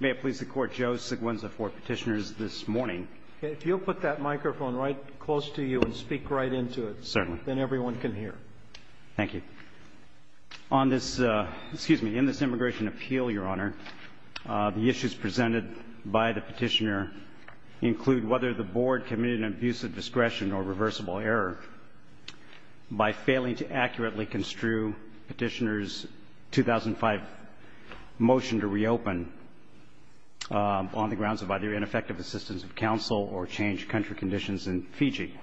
May it please the court, Joe Seguenza for petitioners this morning. If you'll put that microphone right close to you and speak right into it, then everyone can hear. Thank you. On this, excuse me, in this immigration appeal, your honor, the issues presented by the petitioner include whether the board committed an abuse of discretion or reversible error by failing to accurately construe petitioner's 2005 motion to reopen on the grounds of either ineffective assistance of counsel or changed country conditions in Fiji.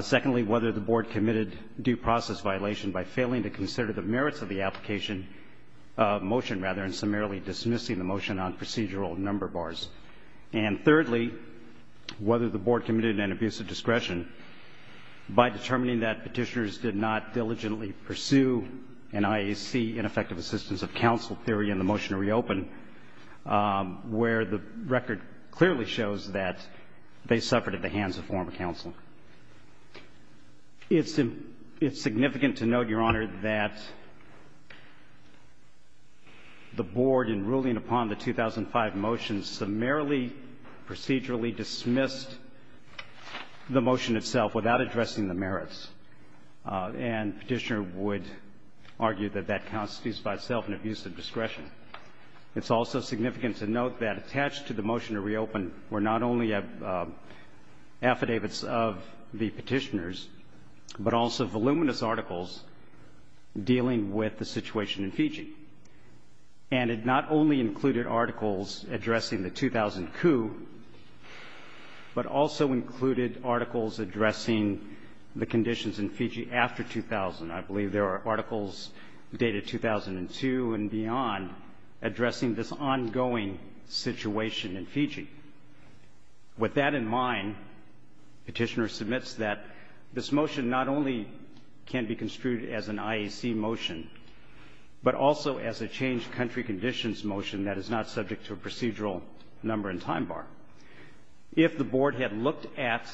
Secondly, whether the board committed due process violation by failing to consider the merits of the application motion rather than summarily dismissing the motion on procedural number bars. And thirdly, whether the board committed an abuse of discretion by determining that petitioners did not diligently pursue an IAC ineffective assistance of counsel theory in the motion to reopen where the record clearly shows that they suffered at the hands of former counsel. It's significant to note, your honor, that the board in ruling upon the 2005 motion summarily procedurally dismissed the motion itself without addressing the merits. And petitioner would argue that that constitutes by itself an abuse of discretion. It's also significant to note that attached to the motion to reopen were not only affidavits of the petitioners, but also voluminous articles dealing with the situation in Fiji. And it not only included articles addressing the 2000 coup, but also included articles addressing the conditions in Fiji after 2000. I believe there are articles dated 2002 and beyond addressing this ongoing situation in Fiji. With that in mind, petitioner submits that this motion not only can be construed as an IAC motion, but also as a changed country conditions motion that is not subject to a procedural number and time bar. If the board had looked at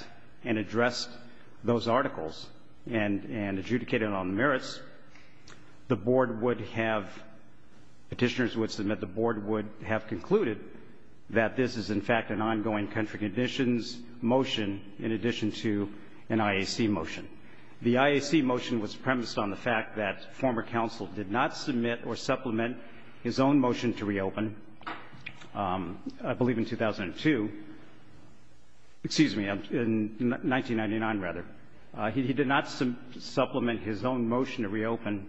and addressed those articles and adjudicated on merits, the board would have, petitioners would submit, the board would have concluded that this is, in fact, an ongoing country conditions motion in addition to an IAC motion. The IAC motion was premised on the fact that former counsel did not submit or supplement his own motion to reopen, I believe in 2002. Excuse me, in 1999, rather. He did not supplement his own motion to reopen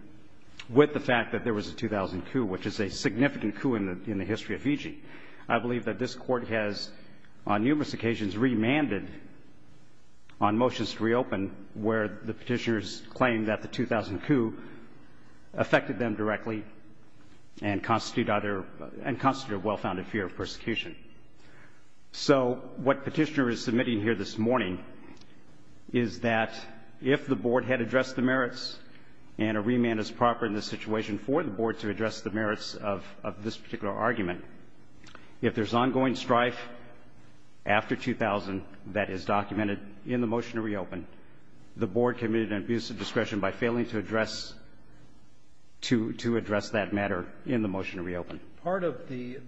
with the fact that there was a 2000 coup, which is a significant coup in the history of Fiji. I believe that this Court has on numerous occasions remanded on motions to reopen where the petitioners claim that the 2000 coup affected them directly and constitute either, and constitute a well-founded fear of persecution. So what petitioner is submitting here this morning is that if the board had addressed the merits and a remand is proper in this situation for the board to address the merits of this particular argument, if there's ongoing strife after 2000 that is documented in the motion to reopen, the board committed an abuse of discretion by failing to address to address that matter in the motion to reopen. Part of the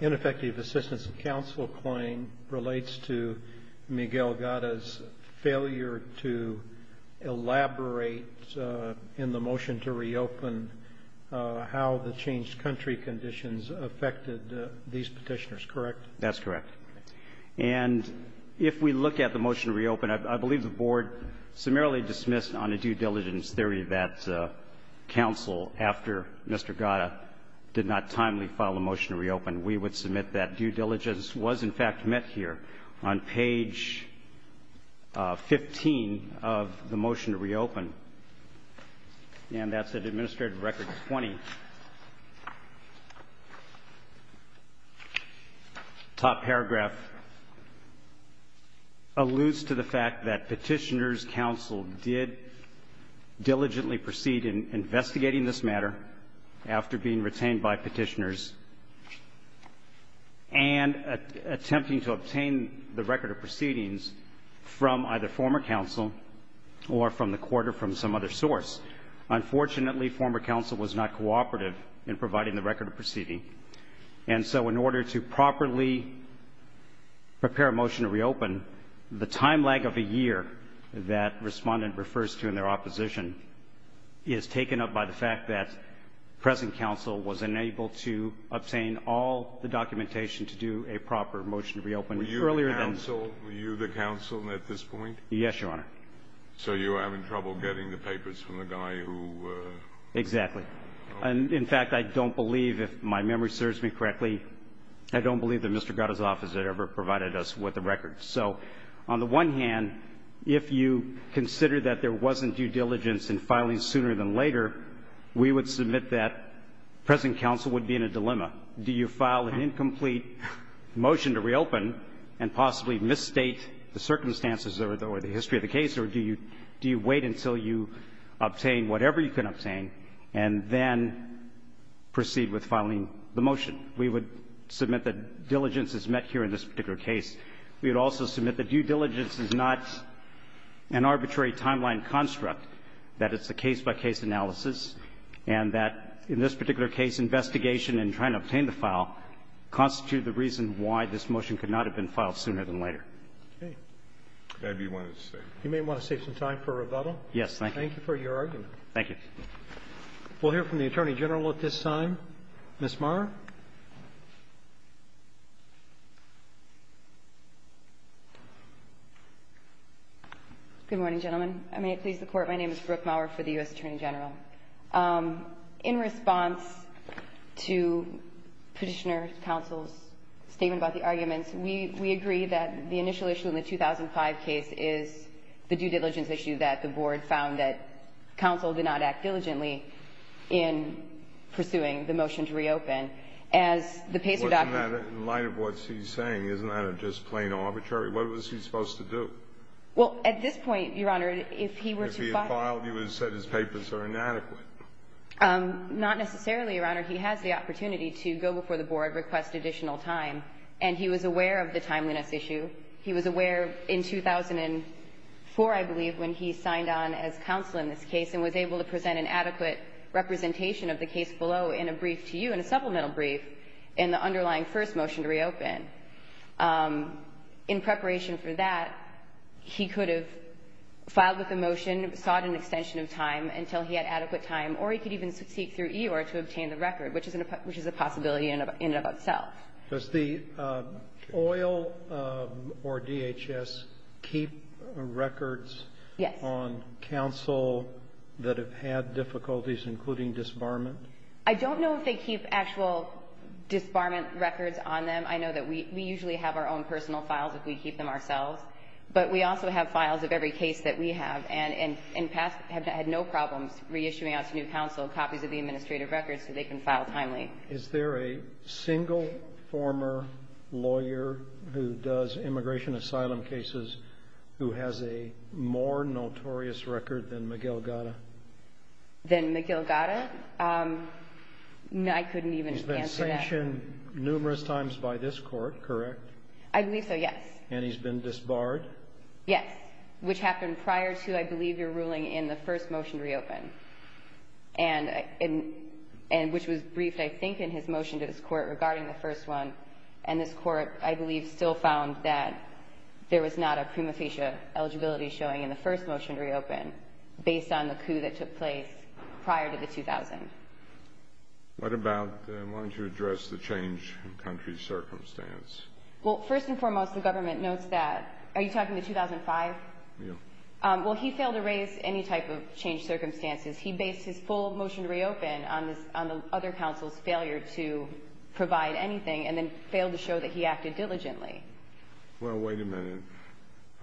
ineffective assistance of counsel claim relates to Miguel Gatta's failure to elaborate in the motion to reopen how the changed country conditions affected these petitioners, correct? That's correct. And if we look at the motion to reopen, I believe the board summarily dismissed on a due diligence theory that counsel, after Mr. Gatta, did not timely file a motion to reopen. We would submit that due diligence was, in fact, met here on page 15 of the motion to reopen, and that's at Administrative Record 20. The top paragraph alludes to the fact that petitioner's counsel did diligently proceed in investigating this matter after being retained by petitioners and attempting to obtain the record of proceedings from either former counsel or from the court or from some other source. Unfortunately, former counsel was not cooperative in providing the record of proceeding. And so in order to properly prepare a motion to reopen, the time lag of a year that respondent refers to in their opposition is taken up by the fact that present counsel was unable to obtain all the documentation to do a proper motion to reopen earlier than... Were you the counsel at this point? Yes, Your Honor. So you were having trouble getting the papers from the guy who... Exactly. In fact, I don't believe, if my memory serves me correctly, I don't believe that Mr. Gatta's office had ever provided us with the record. So on the one hand, if you consider that there wasn't due diligence in filing sooner than later, we would submit that present counsel would be in a dilemma. Do you file an incomplete motion to reopen and possibly misstate the circumstances or the history of the case, or do you wait until you obtain whatever you can obtain and then proceed with filing the motion? We would submit that diligence is met here in this particular case. We would also submit that due diligence is not an arbitrary timeline construct, that it's a case-by-case analysis, and that in this particular case, investigation in trying to obtain the file constitutes the reason why this motion could not have been filed sooner than later. Okay. That'd be one to say. You may want to save some time for rebuttal. Yes. Thank you. Thank you for your argument. Thank you. We'll hear from the Attorney General at this time. Ms. Maurer. Good morning, gentlemen. I may please the Court. My name is Brooke Maurer for the U.S. Attorney General. In response to Petitioner Counsel's statement about the arguments, we agree that the initial issue in the 2005 case is the due diligence issue that the Board found that Counsel did not act diligently in pursuing the motion to reopen. As the PACER document ---- In light of what she's saying, isn't that just plain arbitrary? What was he supposed to do? Well, at this point, Your Honor, if he were to file ---- Not necessarily, Your Honor. He has the opportunity to go before the Board and request additional time, and he was aware of the timeliness issue. He was aware in 2004, I believe, when he signed on as Counsel in this case and was able to present an adequate representation of the case below in a brief to you, in a supplemental brief, in the underlying first motion to reopen. In preparation for that, he could have filed with the motion, sought an extension of time until he had adequate time, or he could even seek through EOR to obtain the record, which is a possibility in and of itself. Does the oil or DHS keep records on Counsel that have had difficulties, including disbarment? I don't know if they keep actual disbarment records on them. I know that we usually have our own personal files if we keep them ourselves, but we also have files of every case that we have, and in the past have had no problems reissuing out to new Counsel copies of the administrative records so they can file timely. Is there a single former lawyer who does immigration asylum cases who has a more notorious record than Miguel Gata? Than Miguel Gata? I couldn't even answer that. He's been sanctioned numerous times by this Court, correct? I believe so, yes. And he's been disbarred? Yes, which happened prior to, I believe, your ruling in the first motion to reopen, which was briefed, I think, in his motion to this Court regarding the first one, and this Court, I believe, still found that there was not a prima facie eligibility showing in the first motion to reopen based on the coup that took place prior to the 2000. Why don't you address the change in country circumstance? Well, first and foremost, the government notes that. Are you talking the 2005? Yes. Well, he failed to raise any type of changed circumstances. He based his full motion to reopen on the other Counsel's failure to provide anything and then failed to show that he acted diligently. Well, wait a minute.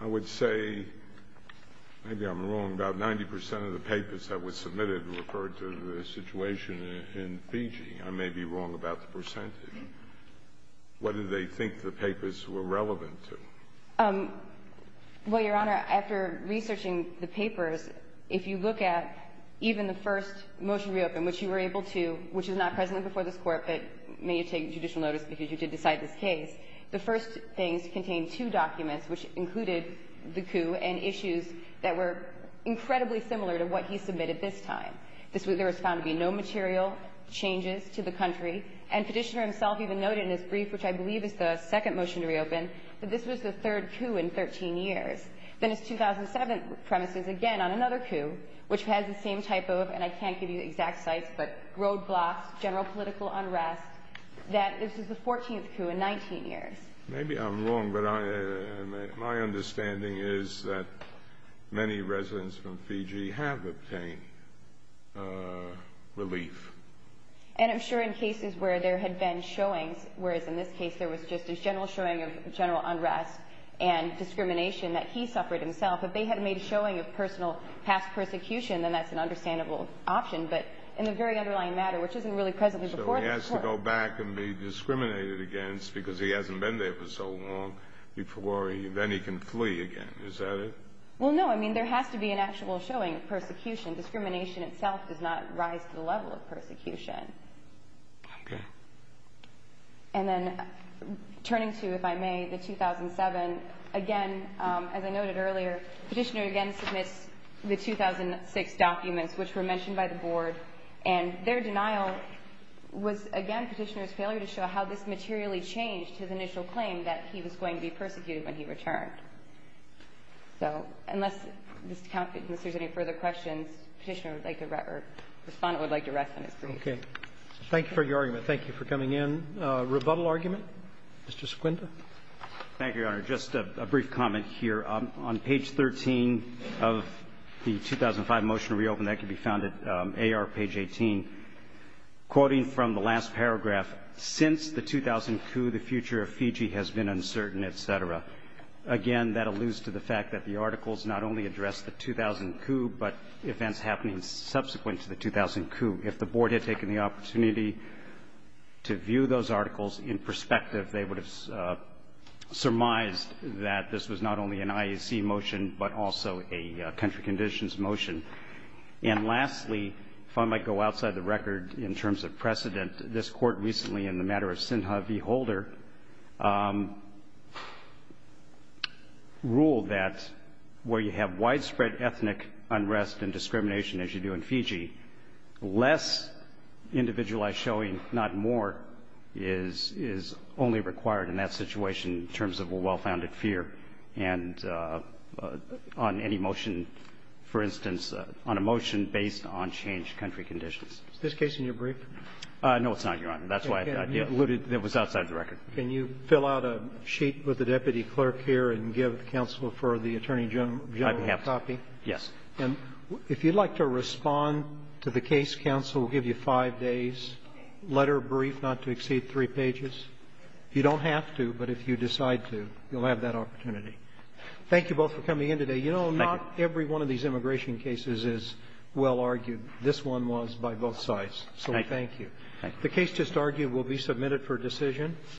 I would say maybe I'm wrong about 90 percent of the papers that were submitted referred to the situation in Fiji. I may be wrong about the percentage. What did they think the papers were relevant to? Well, Your Honor, after researching the papers, if you look at even the first motion to reopen, which you were able to, which was not present before this Court, but may you take judicial notice because you did decide this case, the first things contained two documents which included the coup and issues that were incredibly similar to what he submitted this time. There was found to be no material changes to the country, and Petitioner himself even noted in his brief, which I believe is the second motion to reopen, that this was the third coup in 13 years. Then his 2007 premise is again on another coup, which has the same typo, and I can't give you the exact sites, but roadblocks, general political unrest, that this is the 14th coup in 19 years. Maybe I'm wrong, but my understanding is that many residents from Fiji have obtained relief. And I'm sure in cases where there had been showings, whereas in this case there was just a general showing of general unrest and discrimination that he suffered himself, if they had made a showing of personal past persecution, then that's an understandable option, but in the very underlying matter, which isn't really presently before this Court. So he has to go back and be discriminated against because he hasn't been there for so long, before then he can flee again. Is that it? Well, no. I mean, there has to be an actual showing of persecution. Discrimination itself does not rise to the level of persecution. Okay. And then turning to, if I may, the 2007, again, as I noted earlier, Petitioner again submits the 2006 documents, which were mentioned by the Board, and their denial was, again, Petitioner's failure to show how this materially changed his initial claim that he was going to be persecuted when he returned. So unless there's any further questions, Petitioner would like to rest or Respondent would like to rest on his brief. Okay. Thank you for your argument. Thank you for coming in. Rebuttal argument? Mr. Sequinda. Thank you, Your Honor. Just a brief comment here. On page 13 of the 2005 motion to reopen, that can be found at AR page 18, quoting from the last paragraph, since the 2000 coup, the future of Fiji has been uncertain, et cetera. Again, that alludes to the fact that the articles not only address the 2000 coup, but events happening subsequent to the 2000 coup. If the Board had taken the opportunity to view those articles in perspective, they would have surmised that this was not only an IAC motion, but also a country conditions motion. And lastly, if I might go outside the record in terms of precedent, this Court recently in the matter of Sinha v. Holder ruled that where you have widespread ethnic unrest and discrimination, as you do in Fiji, less individualized showing, not more, is only required in that situation in terms of a well-founded fear and on any motion, for instance, on a motion based on changed country conditions. Is this case in your brief? No, it's not, Your Honor. That's why I have the idea. It was outside the record. Can you fill out a sheet with the deputy clerk here and give counsel for the attorney general a copy? Yes. And if you'd like to respond to the case, counsel will give you five days, letter brief, not to exceed three pages. You don't have to, but if you decide to, you'll have that opportunity. Thank you both for coming in today. Thank you. You know, not every one of these immigration cases is well argued. This one was by both sides. So thank you. The case just argued will be submitted for decision.